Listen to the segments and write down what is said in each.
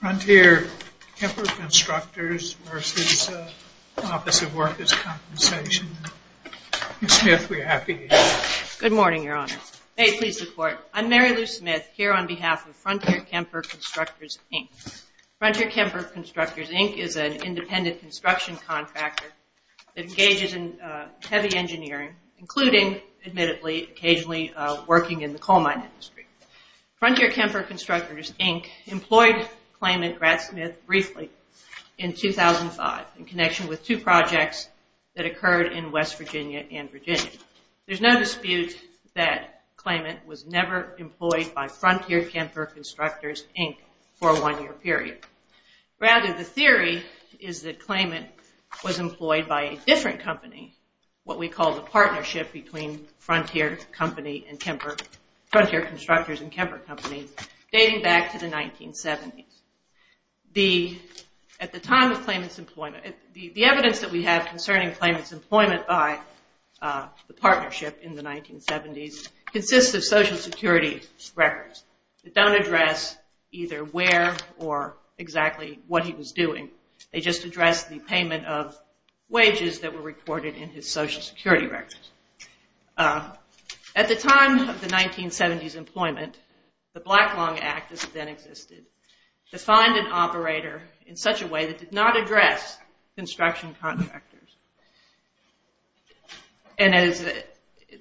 Frontier-Kemper Constructors v. Office of Workers' Compensation. Mary Lou Smith, we're happy you're here. Good morning, Your Honor. May it please the Court. I'm Mary Lou Smith, here on behalf of Frontier-Kemper Constructors, Inc. Frontier-Kemper Constructors, Inc. is an independent construction contractor that engages in heavy engineering, including, admittedly, occasionally, working in the coal mine industry. Frontier-Kemper Constructors, Inc. employed Claymont Gradsmith briefly in 2005 in connection with two projects that occurred in West Virginia and Virginia. There's no dispute that Claymont was never employed by Frontier-Kemper Constructors, Inc. for a one-year period. Rather, the theory is that Claymont was employed by a different company, what we call the partnership between Frontier Constructors and Kemper Company, dating back to the 1970s. The evidence that we have concerning Claymont's employment by the partnership in the 1970s consists of Social Security records that don't address either where or exactly what he was doing. They just address the payment of wages that were recorded in his Social Security records. At the time of the 1970s employment, the Black-Long Act, as it then existed, defined an operator in such a way that did not address construction contractors. And as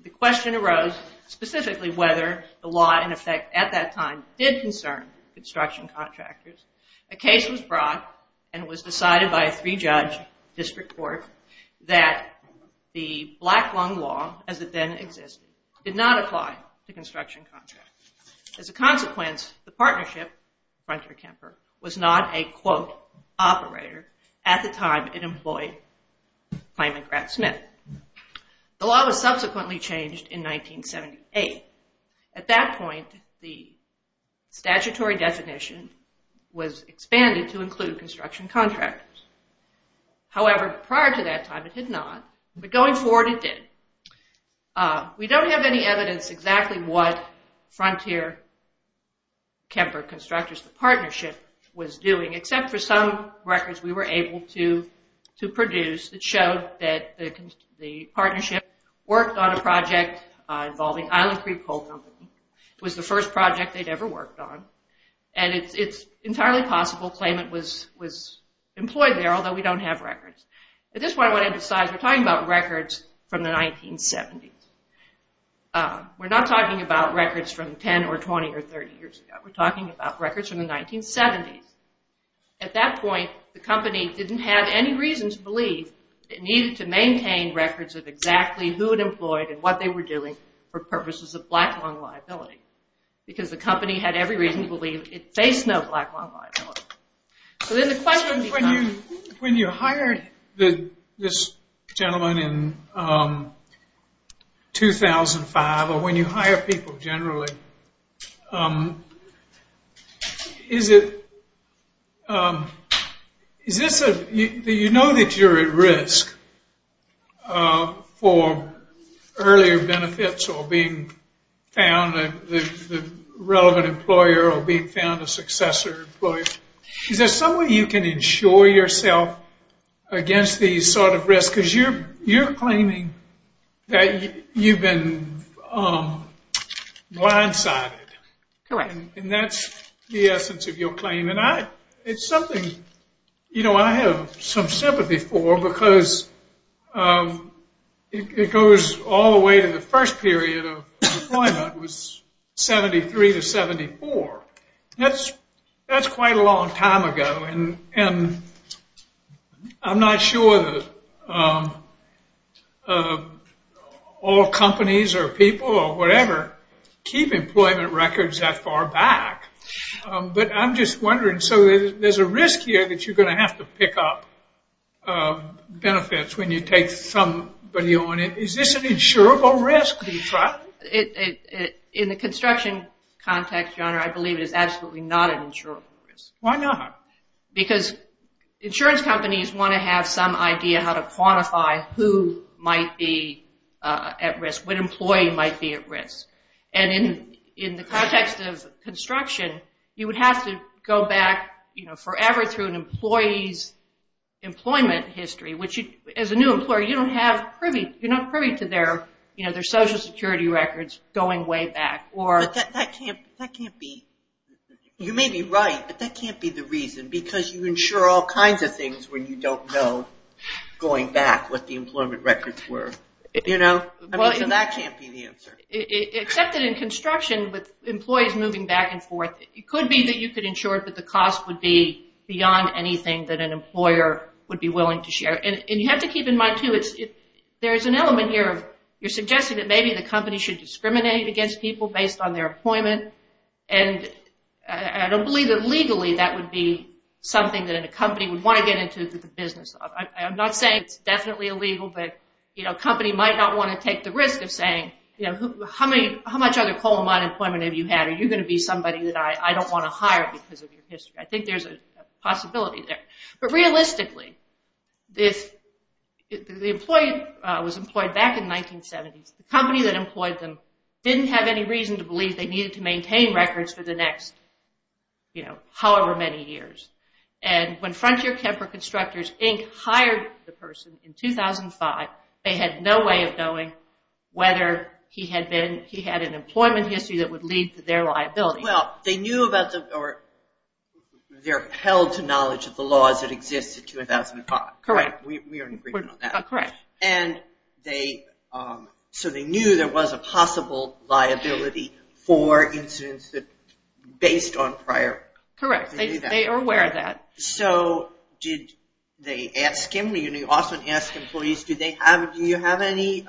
the question arose, specifically whether the law, in effect, at that time, did concern construction contractors, a case was brought and it was decided by a three-judge district court that the Black-Long Law, as it then existed, did not apply to construction contractors. As a consequence, the partnership, Frontier-Kemper, was not a, quote, operator at the time it employed Claymont Gradsmith. The law was subsequently changed in 1978. At that point, the statutory definition was expanded to include construction contractors. However, prior to that time it did not, but going forward it did. We don't have any evidence exactly what Frontier-Kemper Constructors, the partnership, was doing, except for some records we were able to produce that showed that the partnership worked on a project involving Island Creek Coal Company. It was the first project they'd ever worked on. And it's entirely possible Claymont was employed there, although we don't have records. At this point, I want to emphasize we're talking about records from the 1970s. We're not talking about records from 10 or 20 or 30 years ago. We're talking about records from the 1970s. At that point, the company didn't have any reason to believe it needed to maintain records of exactly who it employed and what they were doing for purposes of black lung liability, because the company had every reason to believe it faced no black lung liability. So then the question becomes... When you hired this gentleman in 2005, or when you hire people generally, do you know that you're at risk for earlier benefits or being found a relevant employer or being found a successor employer? Is there some way you can insure yourself against these sort of risks? Because you're claiming that you've been blindsided. Correct. And that's the essence of your claim. And it's something I have some sympathy for, because it goes all the way to the first period of employment was 73 to 74. That's quite a long time ago. And I'm not sure that all companies or people or whatever keep employment records that far back. But I'm just wondering. So there's a risk here that you're going to have to pick up benefits when you take somebody on. Is this an insurable risk? In the construction context, John, I believe it is absolutely not an insurable risk. Why not? Because insurance companies want to have some idea how to quantify who might be at risk, what employee might be at risk. And in the context of construction, you would have to go back forever through an employee's employment history, which as a new employer, you're not privy to their Social Security records going way back. But that can't be. You may be right, but that can't be the reason, because you insure all kinds of things when you don't know, going back, what the employment records were. So that can't be the answer. Except that in construction, with employees moving back and forth, it could be that you could insure that the cost would be beyond anything that an employer would be willing to share. And you have to keep in mind, too, there's an element here. You're suggesting that maybe the company should discriminate against people based on their employment. And I don't believe that legally that would be something that a company would want to get into the business of. I'm not saying it's definitely illegal, but a company might not want to take the risk of saying, how much other coal mine employment have you had? Are you going to be somebody that I don't want to hire because of your history? I think there's a possibility there. But realistically, if the employee was employed back in the 1970s, the company that employed them didn't have any reason to believe they needed to maintain records for the next however many years. And when Frontier Kemper Constructors, Inc. hired the person in 2005, they had no way of knowing whether he had an employment history that would lead to their liability. Well, they're held to knowledge of the laws that existed in 2005. Correct. We are in agreement on that. Correct. And so they knew there was a possible liability for incidents based on prior. Correct. They are aware of that. So did they ask him? You know, you often ask employees, do you have any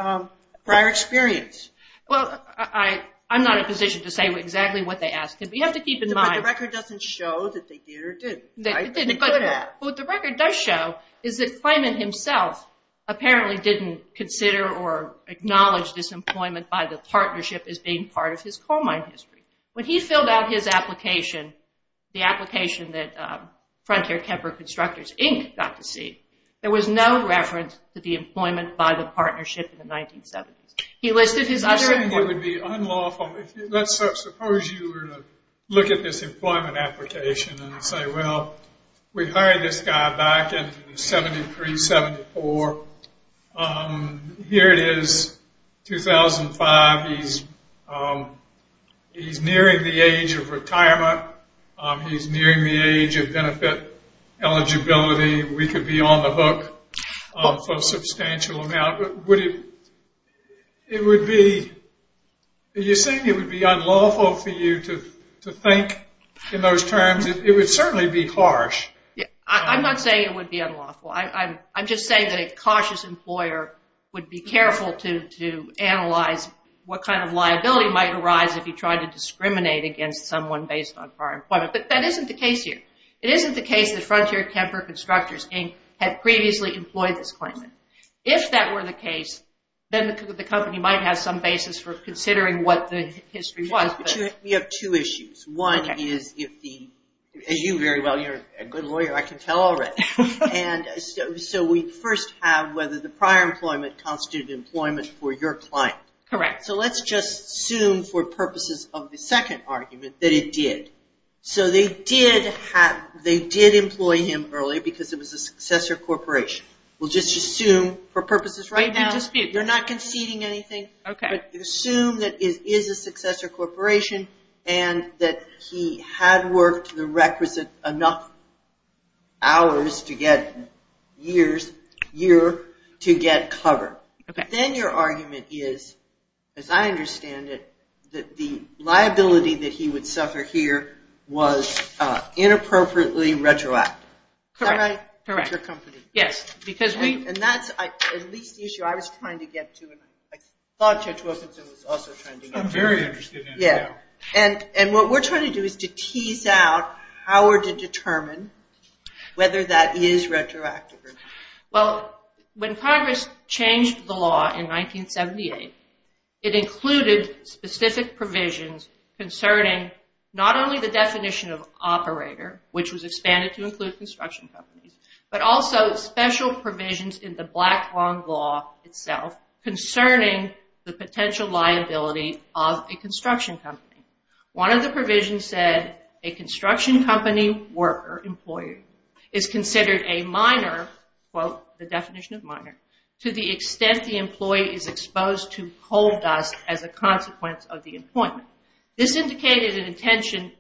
prior experience? Well, I'm not in a position to say exactly what they asked him, but you have to keep in mind. But the record doesn't show that they did or didn't, right? But what the record does show is that Clement himself apparently didn't consider or acknowledge this employment by the partnership as being part of his coal mine history. When he filled out his application, the application that Frontier Kemper Constructors, Inc. got to see, there was no reference to the employment by the partnership in the 1970s. It would be unlawful. Let's suppose you were to look at this employment application and say, well, we hired this guy back in 73, 74. Here it is, 2005. He's nearing the age of retirement. He's nearing the age of benefit eligibility. We could be on the hook for a substantial amount. But it would be unlawful for you to think in those terms. It would certainly be harsh. I'm not saying it would be unlawful. I'm just saying that a cautious employer would be careful to analyze what kind of liability might arise if he tried to discriminate against someone based on prior employment. But that isn't the case here. It isn't the case that Frontier Kemper Constructors, Inc. had previously employed this claimant. If that were the case, then the company might have some basis for considering what the history was. But you have two issues. One is if the, you very well, you're a good lawyer. I can tell already. So we first have whether the prior employment constituted employment for your client. Correct. So let's just assume for purposes of the second argument that it did. So they did employ him early because it was a successor corporation. We'll just assume for purposes right now. You're not conceding anything. Okay. Assume that it is a successor corporation and that he had worked the requisite enough hours to get years, year to get cover. Okay. Then your argument is, as I understand it, that the liability that he would suffer here was inappropriately retroactive. Correct. Correct. Retroactive of your company. Yes. And that's at least the issue I was trying to get to and I thought Judge Wilkinson was also trying to get to. I'm very interested in it now. And what we're trying to do is to tease out how we're to determine whether that is retroactive or not. Well, when Congress changed the law in 1978, it included specific provisions concerning not only the definition of operator, which was expanded to include construction companies, but also special provisions in the Black Law itself concerning the potential liability of a construction company. One of the provisions said a construction company worker, employer, is considered a minor, quote, the definition of minor, to the extent the employee is exposed to coal dust as a consequence of the employment. This indicated an intention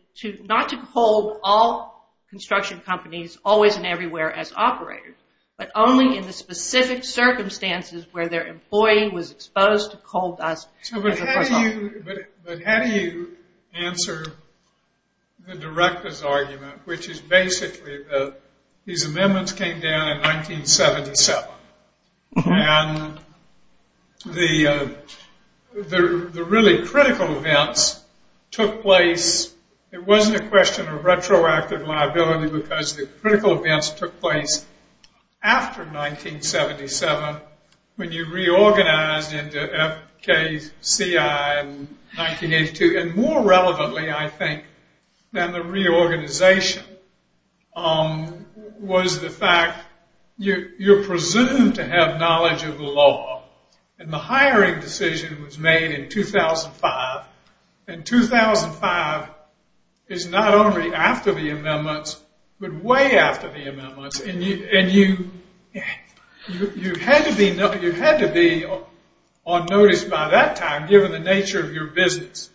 not to hold all construction companies always and everywhere as operators, but only in the specific circumstances where their employee was exposed to coal dust as a result. But how do you answer the director's argument, which is basically that these amendments came down in 1977. And the really critical events took place. It wasn't a question of retroactive liability because the critical events took place after 1977 when you reorganized into FKCI in 1982. And more relevantly, I think, than the reorganization was the fact you're presumed to have knowledge of the law. And the hiring decision was made in 2005. And 2005 is not only after the amendments, but way after the amendments. And you had to be on notice by that time, given the nature of your business,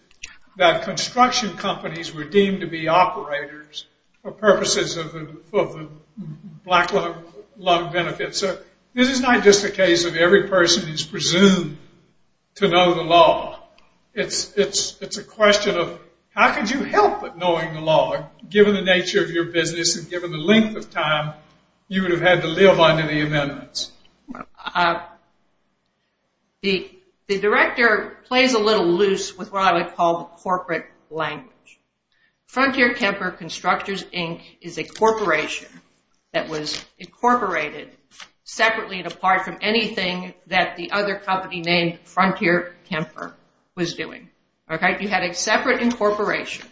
that construction companies were deemed to be operators for purposes of the Black Law benefits. So this is not just a case of every person is presumed to know the law. It's a question of how could you help with knowing the law, given the nature of your business and given the length of time you would have had to live under the amendments. The director plays a little loose with what I would call the corporate language. Frontier Kemper Constructors, Inc. is a corporation that was incorporated separately and apart from anything that the other company named Frontier Kemper was doing. You had a separate incorporation.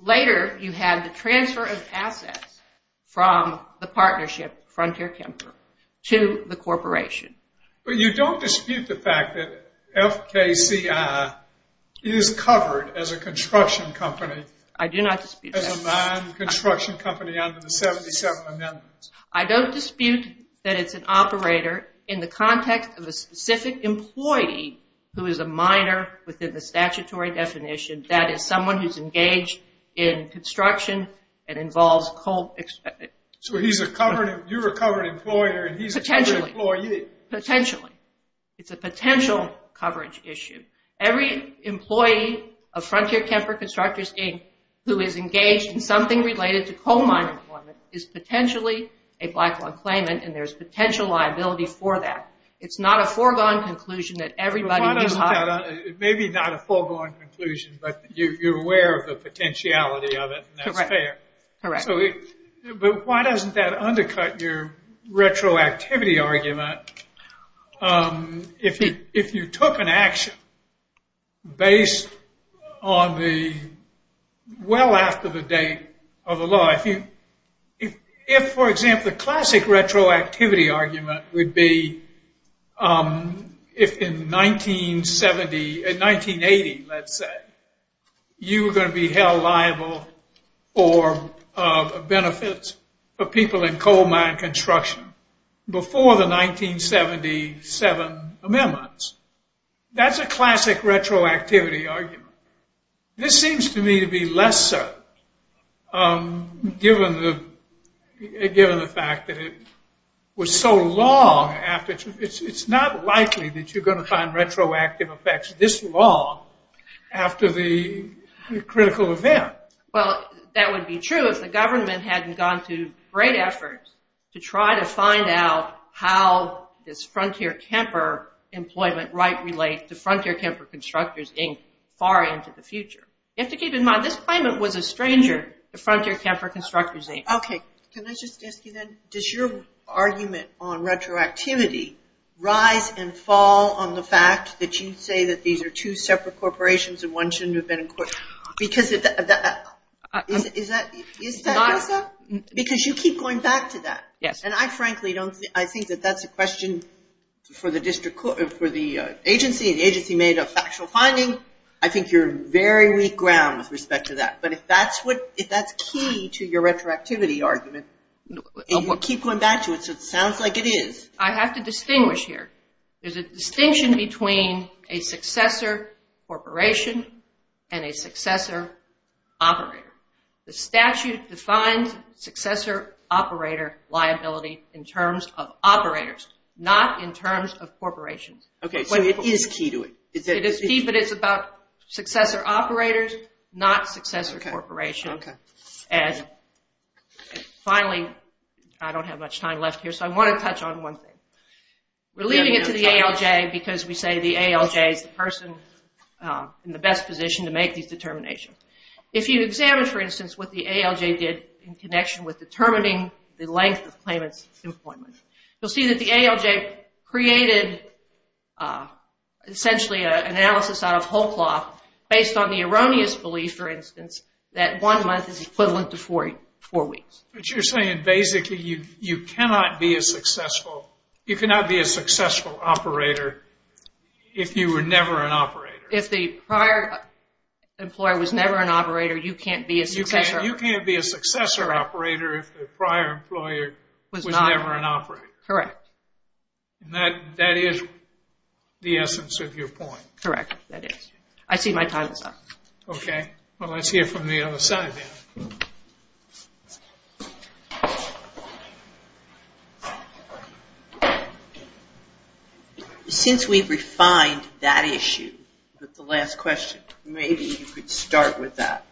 Later, you had the transfer of assets from the partnership, Frontier Kemper, to the corporation. But you don't dispute the fact that FKCI is covered as a construction company. I do not dispute that. As a mine construction company under the 77 amendments. I don't dispute that it's an operator in the context of a specific employee who is a miner within the statutory definition. That is someone who's engaged in construction and involves coal. So you're a covered employer and he's a covered employee. Potentially. It's a potential coverage issue. Every employee of Frontier Kemper Constructors, Inc. who is engaged in something related to coal mine employment is potentially a Black Law claimant and there's potential liability for that. It's not a foregone conclusion that everybody... Maybe not a foregone conclusion, but you're aware of the potentiality of it. That's fair. Correct. But why doesn't that undercut your retroactivity argument? If you took an action based on the well after the date of the law. If, for example, the classic retroactivity argument would be if in 1980, let's say, you were going to be held liable for benefits for people in coal mine construction before the 1977 amendments. That's a classic retroactivity argument. This seems to me to be lesser given the fact that it was so long after. It's not likely that you're going to find retroactive effects this long after the critical event. Well, that would be true if the government hadn't gone to great efforts to try to find out how this Frontier Camper employment might relate to Frontier Camper Constructors, Inc. far into the future. You have to keep in mind this claimant was a stranger to Frontier Camper Constructors, Inc. Okay. Can I just ask you then? Does your argument on retroactivity rise and fall on the fact that you say that these are two separate corporations and one shouldn't have been incorporated? Is that what you said? Because you keep going back to that. Yes. And I frankly think that that's a question for the agency, and the agency made a factual finding. I think you're on very weak ground with respect to that. But if that's key to your retroactivity argument, and you keep going back to it, so it sounds like it is. I have to distinguish here. There's a distinction between a successor corporation and a successor operator. The statute defines successor operator liability in terms of operators, not in terms of corporations. Okay. So it is key to it. It is key, but it's about successor operators, not successor corporations. Okay. And finally, I don't have much time left here, so I want to touch on one thing. We're leaving it to the ALJ because we say the ALJ is the person in the best position to make these determinations. If you examine, for instance, what the ALJ did in connection with determining the length of claimants' employment, you'll see that the ALJ created essentially an analysis out of whole cloth based on the erroneous belief, for instance, that one month is equivalent to four weeks. But you're saying basically you cannot be a successful operator if you were never an operator. If the prior employer was never an operator, you can't be a successor. You can't be a successor operator if the prior employer was never an operator. Correct. And that is the essence of your point. Correct. That is. I see my time is up. Okay. Well, let's hear from the other side then. Since we've refined that issue with the last question, maybe you could start with that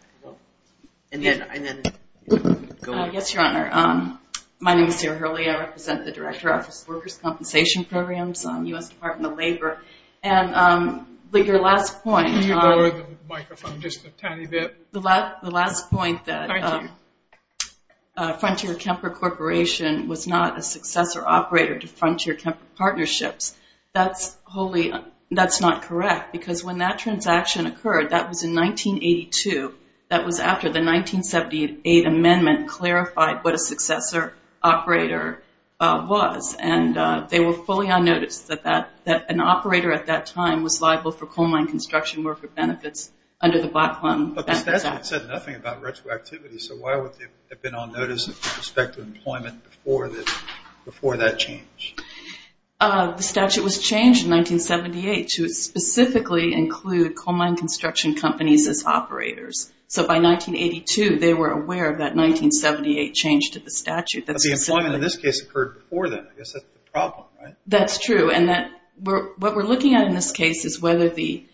and then go on. Yes, Your Honor. My name is Sarah Hurley. I represent the Director Office of Workers' Compensation Programs, U.S. Department of Labor. And your last point. Can you lower the microphone just a tiny bit? The last point that Frontier Kemper Corporation was not a successor operator to Frontier Kemper Partnerships, that's not correct because when that transaction occurred, that was in 1982. That was after the 1978 amendment clarified what a successor operator was. And they were fully on notice that an operator at that time was liable for coal mine construction or for benefits under the Black Plum Benefits Act. But the statute said nothing about retroactivity, so why would they have been on notice with respect to employment before that change? The statute was changed in 1978 to specifically include coal mine construction companies as operators. So by 1982, they were aware of that 1978 change to the statute. But the employment in this case occurred before then. I guess that's the problem, right? That's true. And what we're looking at in this case is whether the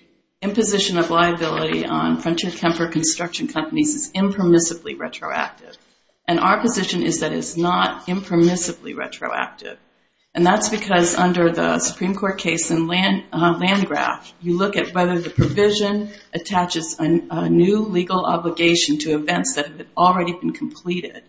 imposition of liability on Frontier Kemper construction companies is impermissibly retroactive. And our position is that it's not impermissibly retroactive. And that's because under the Supreme Court case in Landgraf, you look at whether the provision attaches a new legal obligation to events that have already been completed.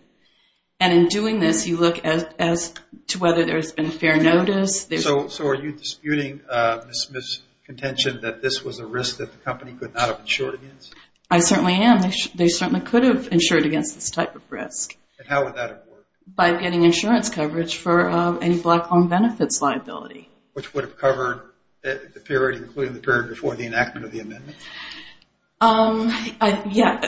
And in doing this, you look as to whether there's been fair notice. So are you disputing Ms. Smith's contention that this was a risk that the company could not have insured against? I certainly am. They certainly could have insured against this type of risk. And how would that have worked? By getting insurance coverage for a Black Plum Benefits liability. Which would have covered the period, including the period before the enactment of the amendment? Yeah.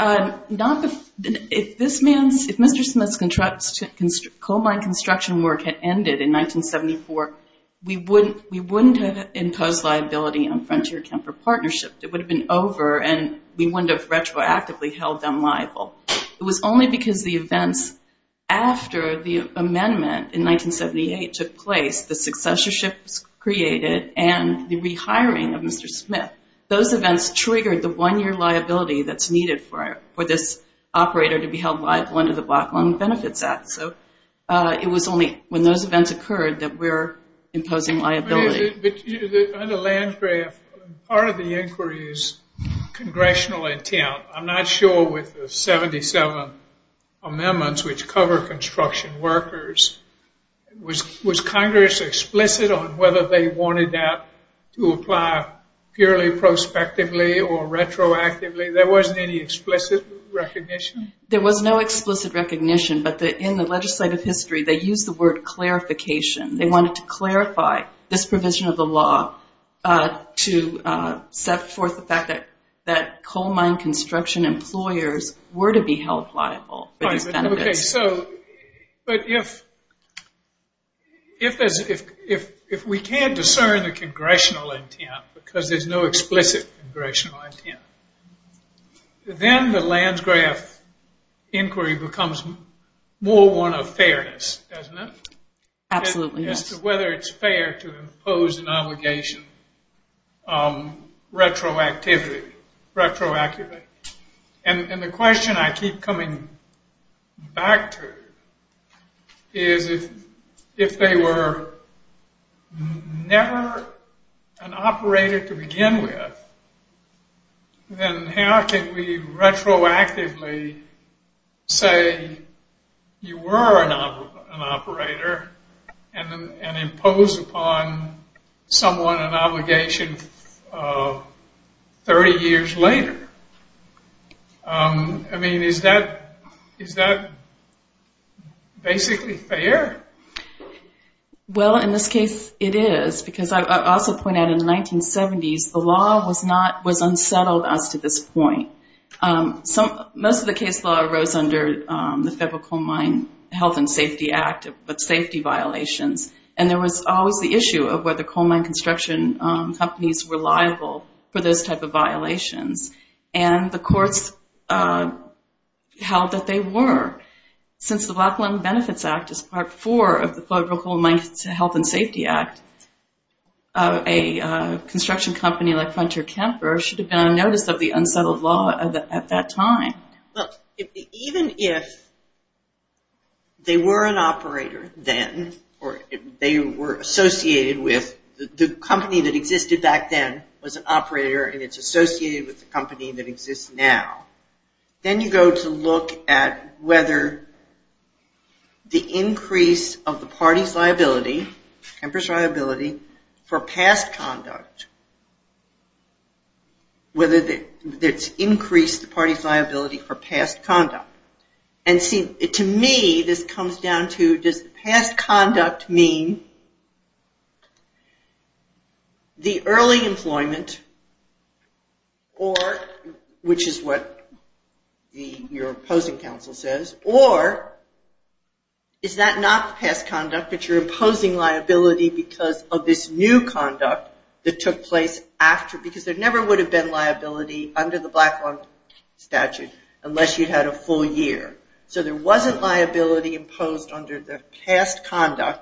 If Mr. Smith's coal mine construction work had ended in 1974, we wouldn't have imposed liability on Frontier Kemper Partnership. It would have been over, and we wouldn't have retroactively held them liable. It was only because the events after the amendment in 1978 took place, the successorships created, and the rehiring of Mr. Smith. Those events triggered the one-year liability that's needed for this operator to be held liable under the Black Plum Benefits Act. So it was only when those events occurred that we're imposing liability. But under Landgraf, part of the inquiry is congressional intent. I'm not sure with the 77 amendments, which cover construction workers, was Congress explicit on whether they wanted that to apply purely prospectively or retroactively? There wasn't any explicit recognition? There was no explicit recognition. But in the legislative history, they used the word clarification. They wanted to clarify this provision of the law to set forth the fact that coal mine construction employers were to be held liable for these benefits. But if we can't discern the congressional intent because there's no explicit congressional intent, then the Landgraf inquiry becomes more one of fairness, doesn't it? Absolutely, yes. As to whether it's fair to impose an obligation retroactively. And the question I keep coming back to is if they were never an operator to begin with, then how can we retroactively say you were an operator and impose upon someone an obligation 30 years later? I mean, is that basically fair? Well, in this case, it is. Because I also point out in the 1970s, the law was unsettled as to this point. Most of the case law arose under the Federal Coal Mine Health and Safety Act with safety violations. And there was always the issue of whether coal mine construction companies were liable for those type of violations. And the courts held that they were. Since the Blacklin Benefits Act is part four of the Federal Coal Mine Health and Safety Act, a construction company like Hunter Kemper should have been on notice of the unsettled law at that time. Look, even if they were an operator then or they were associated with the company that existed back then was an operator and it's associated with the company that exists now, then you go to look at whether the increase of the party's liability, Kemper's liability, for past conduct, whether it's increased the party's liability for past conduct. And see, to me, this comes down to does past conduct mean the early employment, which is what your opposing counsel says, or is that not past conduct, but you're imposing liability because of this new conduct that took place after, because there never would have been liability under the Blacklin statute unless you had a full year. So there wasn't liability imposed under the past conduct,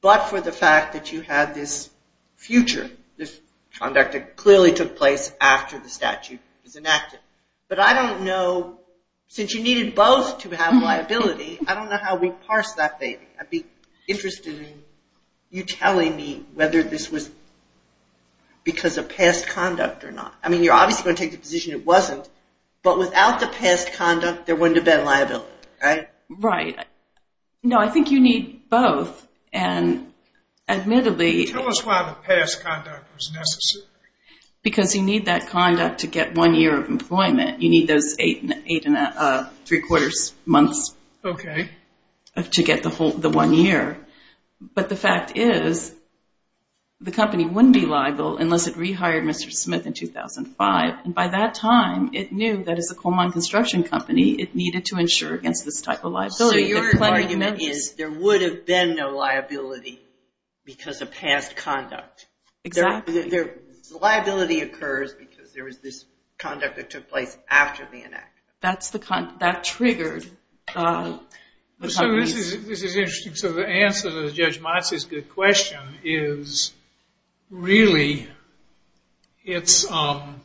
but for the fact that you had this future, this conduct that clearly took place after the statute was enacted. But I don't know, since you needed both to have liability, I don't know how we parse that data. I'd be interested in you telling me whether this was because of past conduct or not. I mean, you're obviously going to take the position it wasn't, but without the past conduct there wouldn't have been liability, right? Right. No, I think you need both, and admittedly... Tell us why the past conduct was necessary. You need those eight and three-quarters months to get the one year. But the fact is the company wouldn't be liable unless it rehired Mr. Smith in 2005, and by that time it knew that as a Coleman Construction Company it needed to insure against this type of liability. So you're arguing that there would have been no liability because of past conduct. Exactly. The liability occurs because there was this conduct that took place after the enactment. That triggered the company's... This is interesting. So the answer to Judge Matsi's good question is really it's an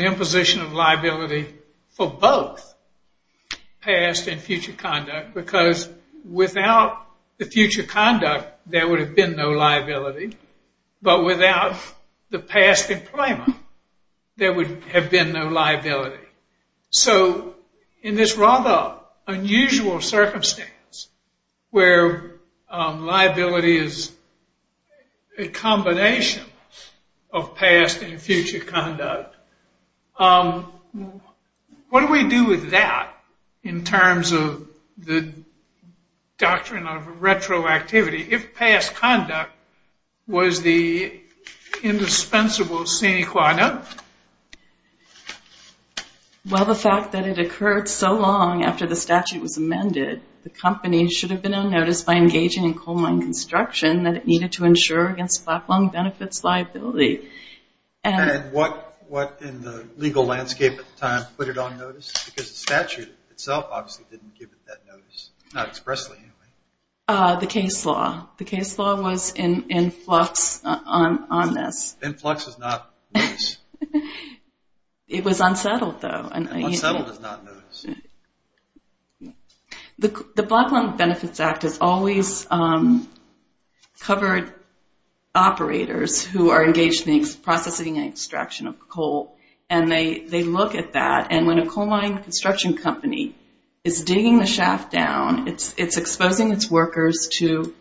imposition of liability for both past and future conduct, because without the future conduct there would have been no liability, but without the past employment there would have been no liability. So in this rather unusual circumstance where liability is a combination of past and future conduct, what do we do with that in terms of the doctrine of retroactivity? If past conduct was the indispensable sine qua non? Well, the fact that it occurred so long after the statute was amended, the company should have been on notice by engaging in Coleman Construction that it needed to insure against flat-lung benefits liability. And what in the legal landscape at the time put it on notice? Because the statute itself obviously didn't give it that notice, not expressly anyway. The case law. The case law was in flux on this. Influx is not notice. It was unsettled, though. Unsettled is not notice. The Flat-Lung Benefits Act has always covered operators who are engaged in the processing and extraction of coal, and they look at that, and when a Coleman Construction company is digging the shaft down, it's exposing its workers to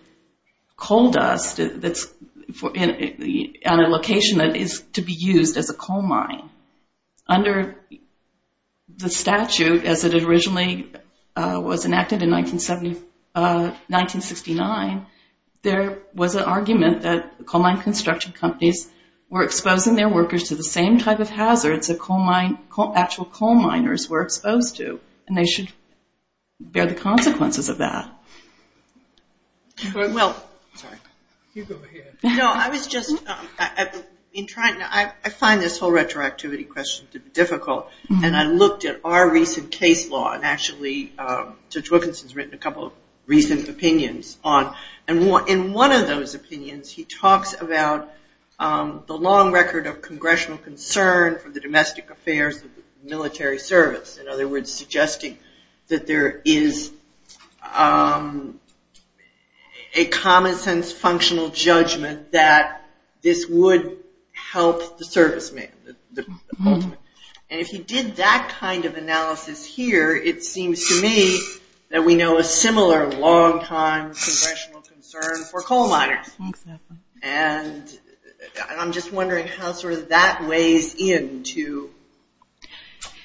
coal dust on a location that is to be used as a coal mine. Under the statute, as it originally was enacted in 1969, there was an argument that Coleman Construction companies were exposing their workers to the same type of hazards that actual coal miners were exposed to, and they should bear the consequences of that. I find this whole retroactivity question difficult, and I looked at our recent case law, and actually Judge Wilkinson's written a couple of recent opinions on, and in one of those opinions he talks about the long record of congressional concern for the domestic affairs of the military service. In other words, suggesting that there is a common sense functional judgment that this would help the serviceman. And if he did that kind of analysis here, it seems to me that we know a similar long time congressional concern for coal miners. And I'm just wondering how sort of that weighs into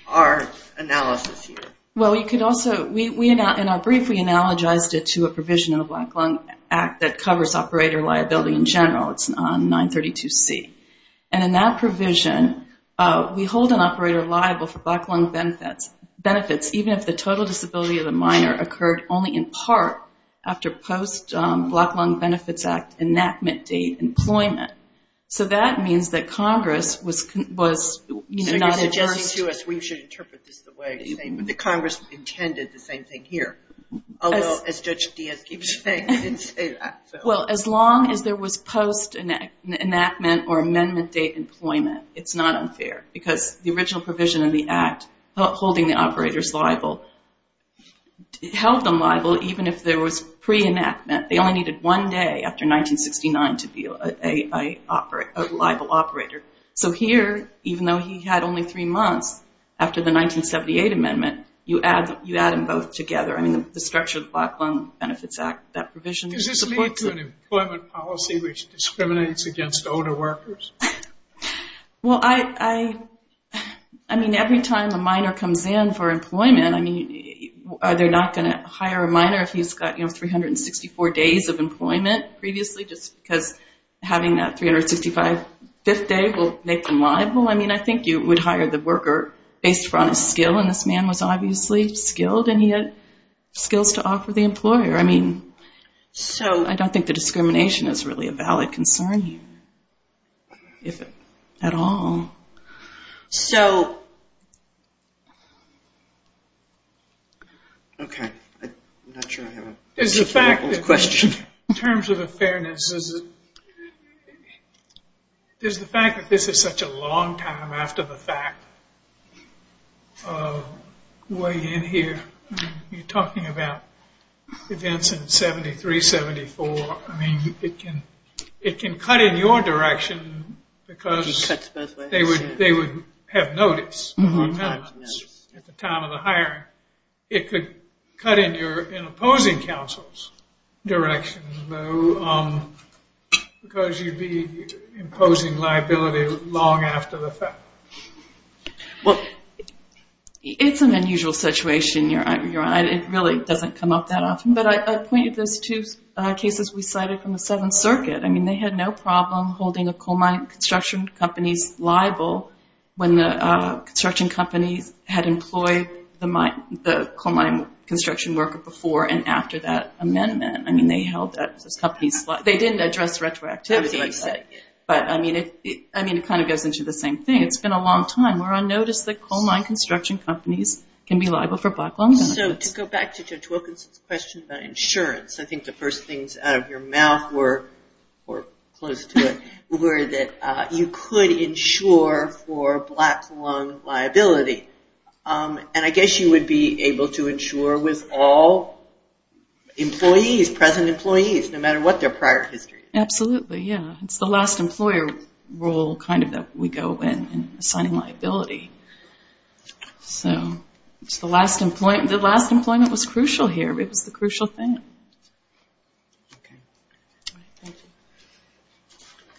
our analysis here. Well, you could also, in our brief we analogized it to a provision in the Black Lung Act that covers operator liability in general. It's on 932C. And in that provision, we hold an operator liable for black lung benefits even if the total disability of the miner occurred only in part after post-Black Lung Benefits Act enactment date employment. So that means that Congress was not adverse. So you're suggesting to us we should interpret this the way you're saying, that Congress intended the same thing here. Although, as Judge Diaz keeps saying, it's... Well, as long as there was post-enactment or amendment date employment, it's not unfair. Because the original provision of the act holding the operators liable held them liable even if there was pre-enactment. They only needed one day after 1969 to be a liable operator. So here, even though he had only three months after the 1978 amendment, you add them both together. I mean, the structure of the Black Lung Benefits Act, that provision... Does this lead to an employment policy which discriminates against older workers? Well, I mean, every time a miner comes in for employment, I mean, are they not going to hire a miner if he's got 364 days of employment previously just because having that 365th day will make them liable? I mean, I think you would hire the worker based on his skill, and this man was obviously skilled, and he had skills to offer the employer. I mean, so I don't think the discrimination is really a valid concern here, if at all. So... Okay, I'm not sure I have a... There's the fact that in terms of the fairness, there's the fact that this is such a long time after the fact. Way in here, you're talking about events in 73, 74. I mean, it can cut in your direction because they would have notice at the time of the hiring. It could cut in opposing counsel's direction, because you'd be imposing liability long after the fact. Well, it's an unusual situation. It really doesn't come up that often. But I pointed those two cases we cited from the Seventh Circuit. I mean, they had no problem holding a coal mining construction company's liable when the construction company had employed the coal mining construction worker before and after that amendment. They didn't address retroactivity. But I mean, it kind of goes into the same thing. It's been a long time. We're on notice that coal mining construction companies can be liable for black lung benefits. So to go back to Judge Wilkinson's question about insurance, I think the first things out of your mouth were, or close to it, were that you could insure for black lung liability. And I guess you would be able to insure with all employees, present employees, no matter what their prior history is. Absolutely, yeah. It's the last employer role kind of that we go in, in assigning liability. So it's the last employment. The last employment was crucial here. It was the crucial thing. Okay. Thank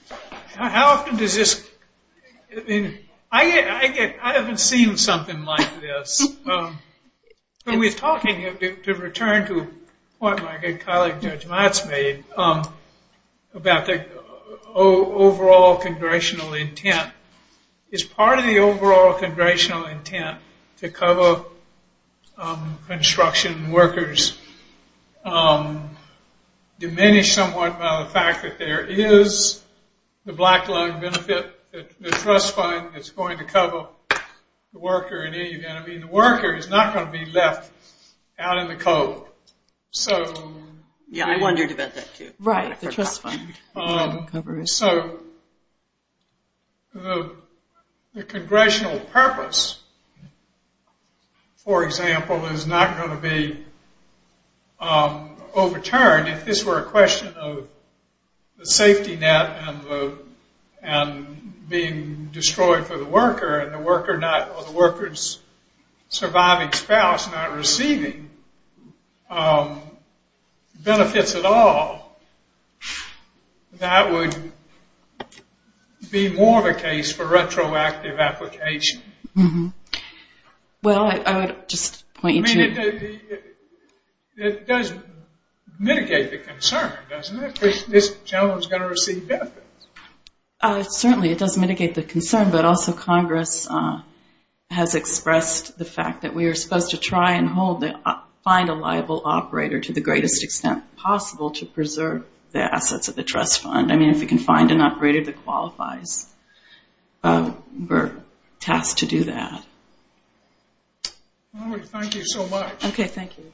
you. How often does this, I mean, I haven't seen something like this. When we're talking, to return to what my good colleague Judge Matz made, about the overall congressional intent, is part of the overall congressional intent to cover construction workers diminished somewhat by the fact that there is the black lung benefit, the trust fund that's going to cover the worker in any event. I mean, the worker is not going to be left out in the cold. Yeah, I wondered about that too. Right, the trust fund. So the congressional purpose, for example, is not going to be overturned. If this were a question of the safety net and being destroyed for the worker or the worker's surviving spouse not receiving benefits at all, that would be more of a case for retroactive application. Well, I would just point you to. I mean, it does mitigate the concern, doesn't it? This gentleman is going to receive benefits. Certainly, it does mitigate the concern, but also Congress has expressed the fact that we are supposed to try and find a liable operator to the greatest extent possible to preserve the assets of the trust fund. I mean, if we can find an operator that qualifies, we're tasked to do that. Marguerite, thank you so much. Okay, thank you.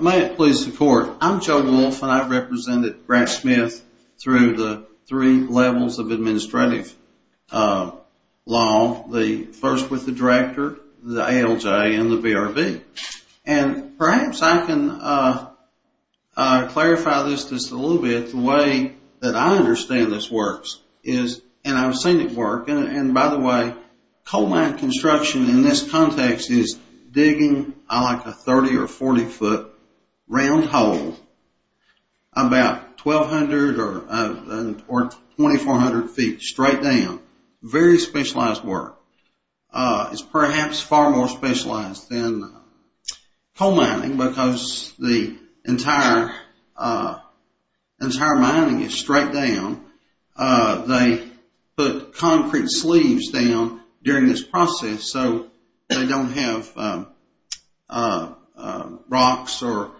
May it please the Court. I'm Joe Wolf and I represented Grant Smith through the three levels of administrative law. The first with the director, the ALJ, and the BRB. And perhaps I can clarify this just a little bit. The way that I understand this works is, and I've seen it work, and by the way, coal mine construction in this context is digging like a 30- or 40-foot round hole about 1,200 or 2,400 feet straight down. Very specialized work. It's perhaps far more specialized than coal mining because the entire mining is straight down. They put concrete sleeves down during this process so they don't have rocks or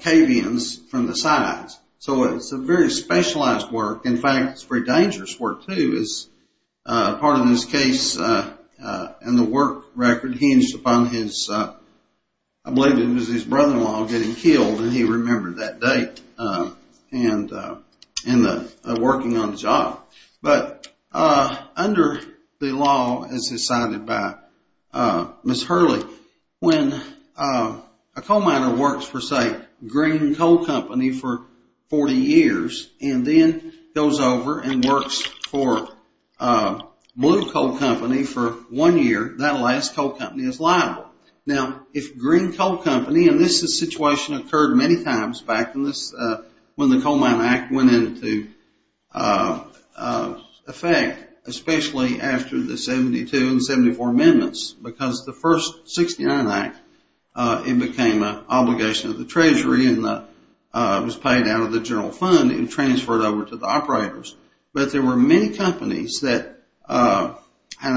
cave-ins from the sides. So it's a very specialized work. In fact, it's very dangerous work too. As part of this case and the work record hinged upon his, I believe it was his brother-in-law getting killed, and he remembered that day and working on the job. But under the law as decided by Ms. Hurley, when a coal miner works for, say, Green Coal Company for 40 years and then goes over and works for Blue Coal Company for one year, that last coal company is liable. Now, if Green Coal Company, and this situation occurred many times back when the Coal Mine Act went into effect, especially after the 72 and 74 amendments, because the first 69 Act, it became an obligation of the Treasury and was paid out of the general fund and transferred over to the operators. But there were many companies that, and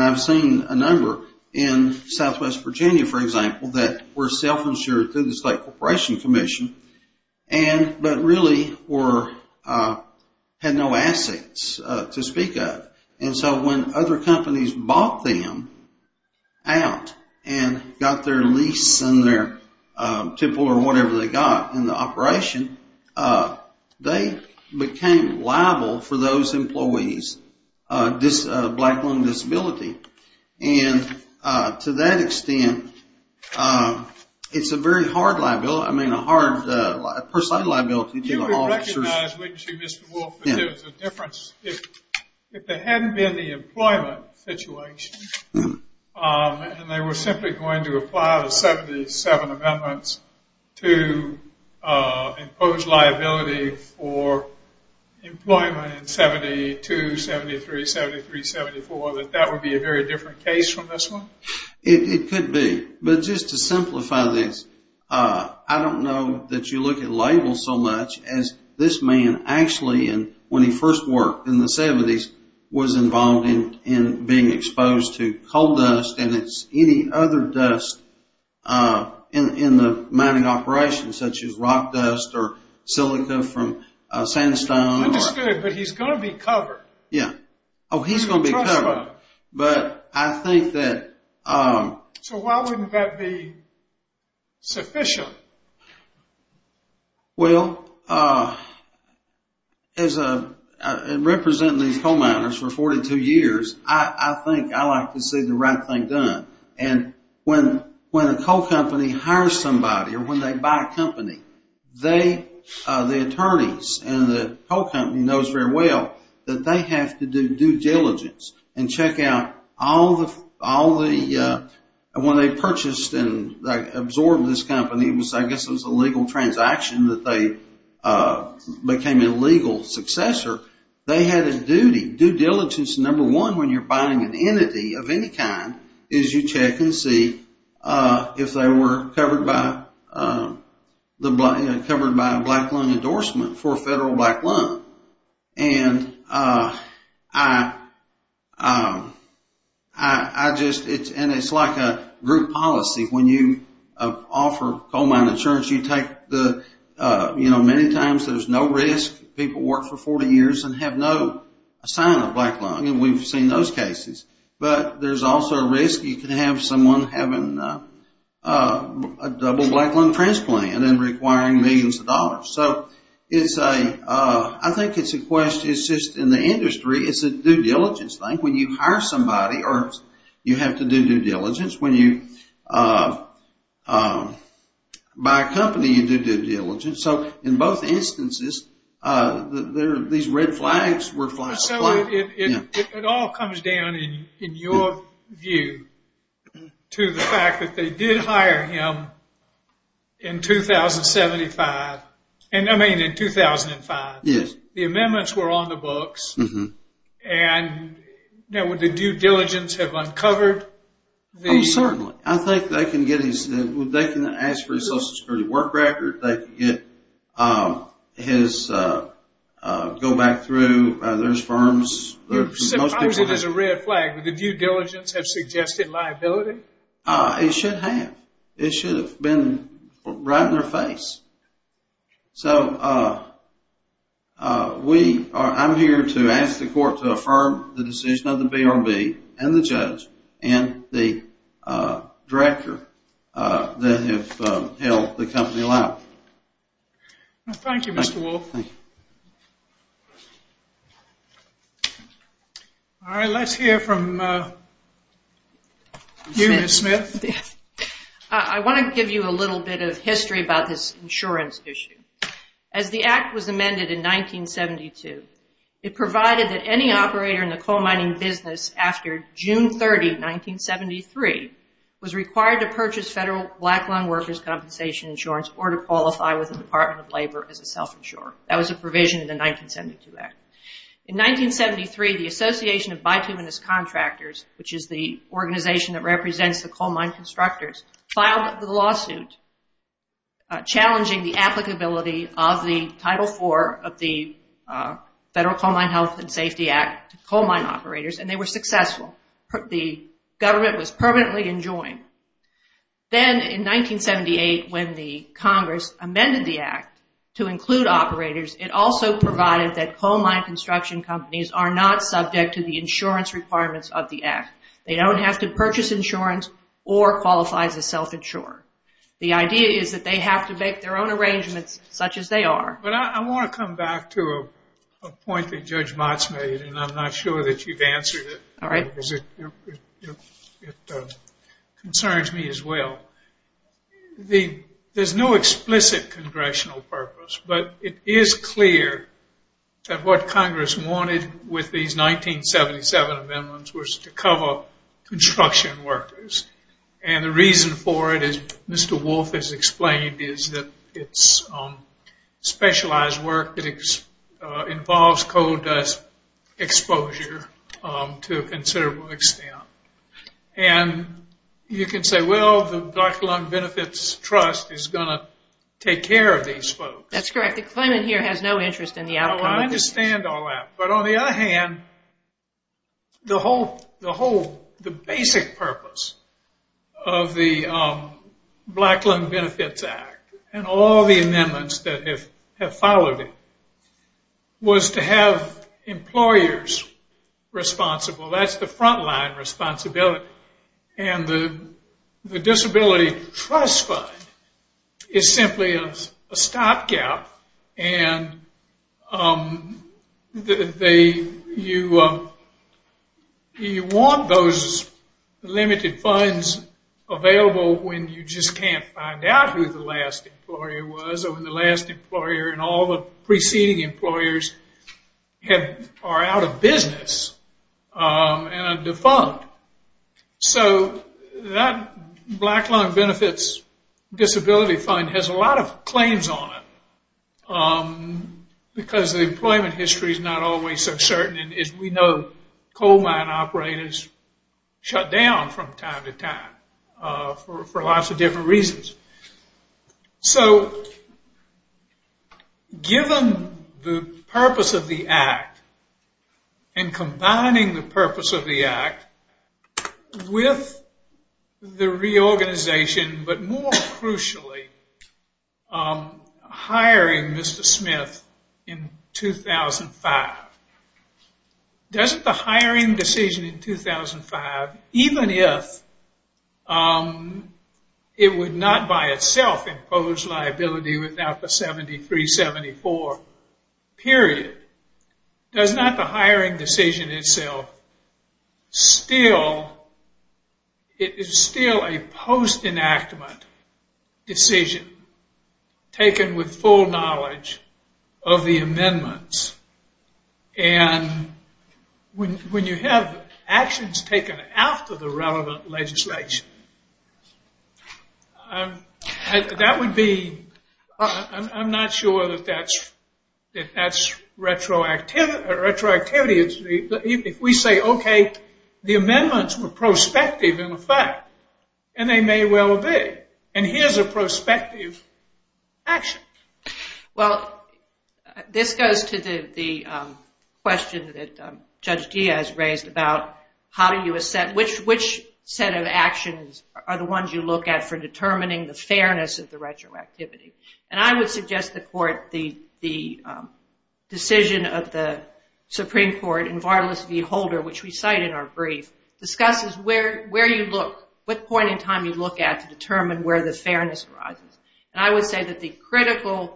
I've seen a number in southwest Virginia, for example, that were self-insured through the State Corporation Commission but really had no assets to speak of. And so when other companies bought them out and got their lease and their tipple or whatever they got in the operation, they became liable for those employees' black lung disability. And to that extent, it's a very hard liability, I mean a hard personal liability to the officers. You would recognize, wouldn't you, Mr. Wolfe, that there was a difference. If there hadn't been the employment situation and they were simply going to apply the 77 amendments to impose liability for employment in 72, 73, 73, 74, that that would be a very different case from this one? It could be. But just to simplify this, I don't know that you look at labels so much as this man actually, when he first worked in the 70s, was involved in being exposed to coal dust, and it's any other dust in the mining operation, such as rock dust or silica from sandstone. Understood, but he's going to be covered. Yeah. Oh, he's going to be covered. But I think that... So why wouldn't that be sufficient? Well, representing these coal miners for 42 years, I think I like to see the right thing done. And when a coal company hires somebody or when they buy a company, the attorneys and the coal company knows very well that they have to do due diligence and check out all the... I guess it was a legal transaction that they became a legal successor. They had a duty. Due diligence, number one, when you're buying an entity of any kind, is you check and see if they were covered by a black loan endorsement for a federal black loan. And I just... And it's like a group policy. When you offer coal mine insurance, you take the... You know, many times there's no risk. People work for 40 years and have no sign of a black loan, and we've seen those cases. But there's also a risk you can have someone having a double black loan transplant and requiring millions of dollars. So it's a... I think it's a question. It's just in the industry, it's a due diligence thing. When you hire somebody, you have to do due diligence. When you buy a company, you do due diligence. So in both instances, these red flags were flagged. So it all comes down, in your view, to the fact that they did hire him in 2075. I mean, in 2005. The amendments were on the books. Now, would the due diligence have uncovered the... Oh, certainly. I think they can get his... They can ask for his Social Security work record. They can get his... Go back through those firms. Suppose it is a red flag. Would the due diligence have suggested liability? It should have. It should have been right in their face. So we are... I'm here to ask the court to affirm the decision of the BRB and the judge and the director that have held the company liable. Thank you, Mr. Wolf. Thank you. All right, let's hear from you, Ms. Smith. I want to give you a little bit of history about this insurance issue. As the act was amended in 1972, it provided that any operator in the coal mining business, after June 30, 1973, was required to purchase federal black lung workers' compensation insurance or to qualify with the Department of Labor as a self-insurer. That was a provision in the 1972 act. In 1973, the Association of Bituminous Contractors, which is the organization that represents the coal mine constructors, filed a lawsuit challenging the applicability of the Title IV of the Federal Coal Mine Health and Safety Act to coal mine operators, and they were successful. The government was permanently enjoined. Then in 1978, when the Congress amended the act to include operators, it also provided that coal mine construction companies are not subject to the insurance requirements of the act. They don't have to purchase insurance or qualify as a self-insurer. The idea is that they have to make their own arrangements such as they are. But I want to come back to a point that Judge Motz made, and I'm not sure that you've answered it. It concerns me as well. There's no explicit congressional purpose, but it is clear that what Congress wanted with these 1977 amendments was to cover construction workers. And the reason for it, as Mr. Wolf has explained, is that it's specialized work that involves coal dust exposure to a considerable extent. And you can say, well, the Black Lung Benefits Trust is going to take care of these folks. That's correct. The claimant here has no interest in the outcome. I understand all that. But on the other hand, the basic purpose of the Black Lung Benefits Act and all the amendments that have followed it was to have employers responsible. That's the frontline responsibility. And the disability trust fund is simply a stopgap. And you want those limited funds available when you just can't find out who the last employer was or when the last employer and all the preceding employers are out of business and are defunct. So that Black Lung Benefits Disability Fund has a lot of claims on it because the employment history is not always so certain. And as we know, coal mine operators shut down from time to time for lots of different reasons. So given the purpose of the act and combining the purpose of the act with the reorganization, but more crucially hiring Mr. Smith in 2005, doesn't the hiring decision in 2005, even if it would not by itself impose liability without the 73-74 period, does not the hiring decision itself still, it is still a post-enactment decision taken with full knowledge of the amendments? And when you have actions taken after the relevant legislation, I'm not sure that that's retroactivity. If we say, okay, the amendments were prospective in effect, and they may well be. And here's a prospective action. Well, this goes to the question that Judge Diaz raised about which set of actions are the ones you look at for determining the fairness of the retroactivity. And I would suggest the court, the decision of the Supreme Court in Vardalus v. Holder, which we cite in our brief, discusses where you look, what point in time you look at to determine where the fairness arises. And I would say that the critical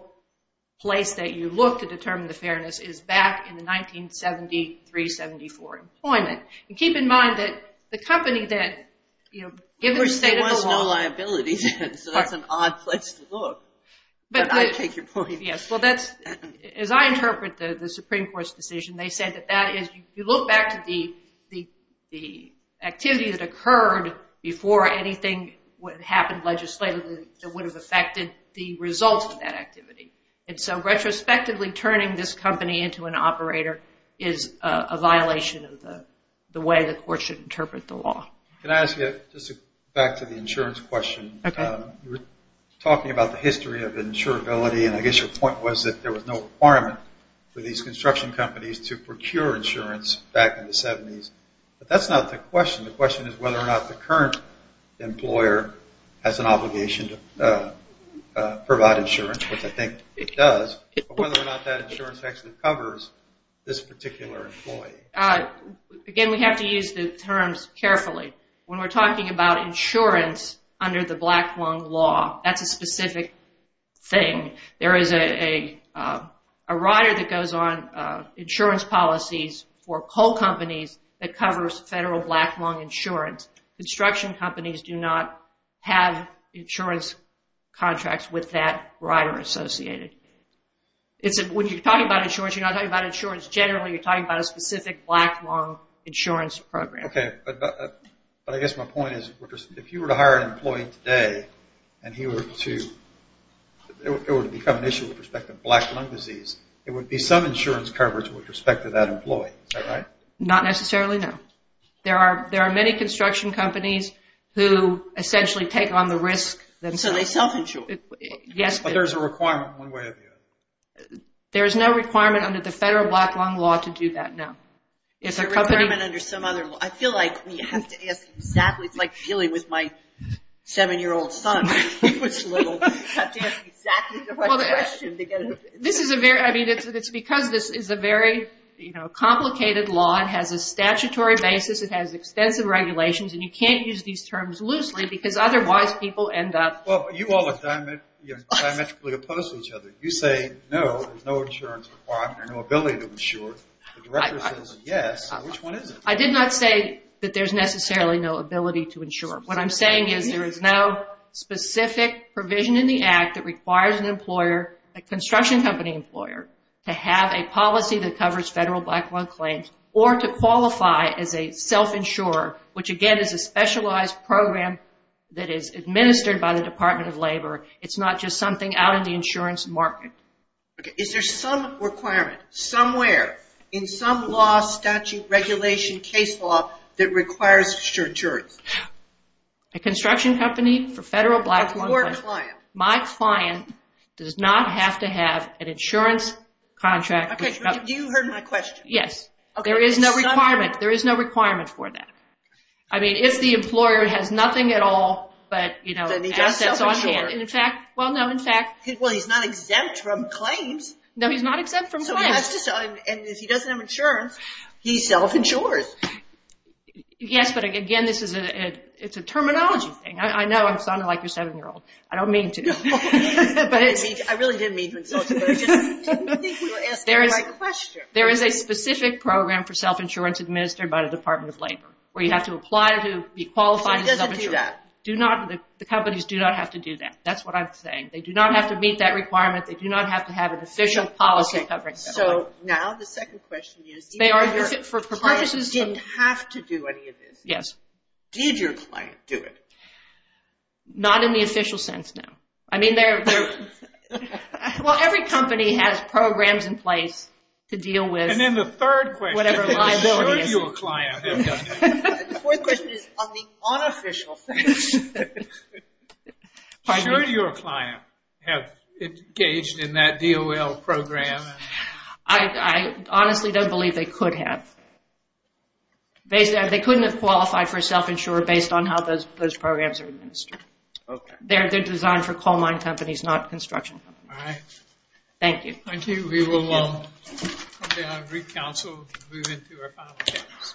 place that you look to determine the fairness is back in the 1973-74 employment. And keep in mind that the company that, you know, given the state of the law... Of course, there was no liability, so that's an odd place to look. But I take your point. Yes. Well, that's, as I interpret the Supreme Court's decision, they said that that is, you look back to the activity that occurred before anything happened legislatively that would have affected the results of that activity. And so retrospectively, turning this company into an operator is a violation of the way the court should interpret the law. Can I ask you, just back to the insurance question. Okay. You were talking about the history of insurability, and I guess your point was that there was no requirement for these construction companies to procure insurance back in the 70s. But that's not the question. The question is whether or not the current employer has an obligation to provide insurance, which I think it does, or whether or not that insurance actually covers this particular employee. Again, we have to use the terms carefully. When we're talking about insurance under the Blackmun law, that's a specific thing. There is a rider that goes on insurance policies for coal companies that covers federal Blackmun insurance. Construction companies do not have insurance contracts with that rider associated. When you're talking about insurance, you're not talking about insurance generally. You're talking about a specific Blackmun insurance program. Okay. But I guess my point is, if you were to hire an employee today, and it were to become an issue with respect to Blackmun disease, it would be some insurance coverage with respect to that employee. Is that right? Not necessarily, no. There are many construction companies who essentially take on the risk. So they self-insure. Yes. But there's a requirement one way or the other. There is no requirement under the federal Blackmun law to do that, no. Is there a requirement under some other law? I feel like we have to ask exactly. It's like dealing with my seven-year-old son. He was little. We have to ask exactly the right question. It's because this is a very complicated law. It has a statutory basis. It has extensive regulations. And you can't use these terms loosely because otherwise people end up... Well, you all are diametrically opposed to each other. You say, no, there's no insurance requirement or no ability to insure. The director says, yes. Which one is it? I did not say that there's necessarily no ability to insure. What I'm saying is there is no specific provision in the act that requires an employer, a construction company employer, to have a policy that covers federal Blackmun claims or to qualify as a self-insurer, which again is a specialized program that is administered by the Department of Labor. It's not just something out in the insurance market. Okay. Is there some requirement somewhere in some law, statute, regulation, case law that requires insurance? A construction company for federal Blackmun... Or a client. My client does not have to have an insurance contract. Okay. You heard my question. Yes. There is no requirement. There is no requirement for that. I mean, if the employer has nothing at all, but, you know, assets on hand... Then he's not self-insured. Well, no, in fact... Well, he's not exempt from claims. No, he's not exempt from claims. And if he doesn't have insurance, he's self-insured. Yes, but again, this is a terminology thing. I know I'm sounding like a 7-year-old. I don't mean to. I really didn't mean to insult you, but I just didn't think you were asking the right question. There is a specific program for self-insurance administered by the Department of Labor where you have to apply to be qualified as self-insured. So he doesn't do that. The companies do not have to do that. That's what I'm saying. They do not have to meet that requirement. They do not have to have an official policy covering that. So now the second question is... They are for purposes of... ...did your client have to do any of this? Yes. Did your client do it? Not in the official sense, no. I mean, they're... Well, every company has programs in place to deal with... And then the third question is... ...whatever liability is... ...should your client have done that? The fourth question is on the unofficial sense. Should your client have engaged in that DOL program? I honestly don't believe they could have. They couldn't have qualified for self-insured based on how those programs are administered. Okay. They're designed for coal mine companies, not construction companies. All right. Thank you. Thank you. We will come down to Council and move into our final questions.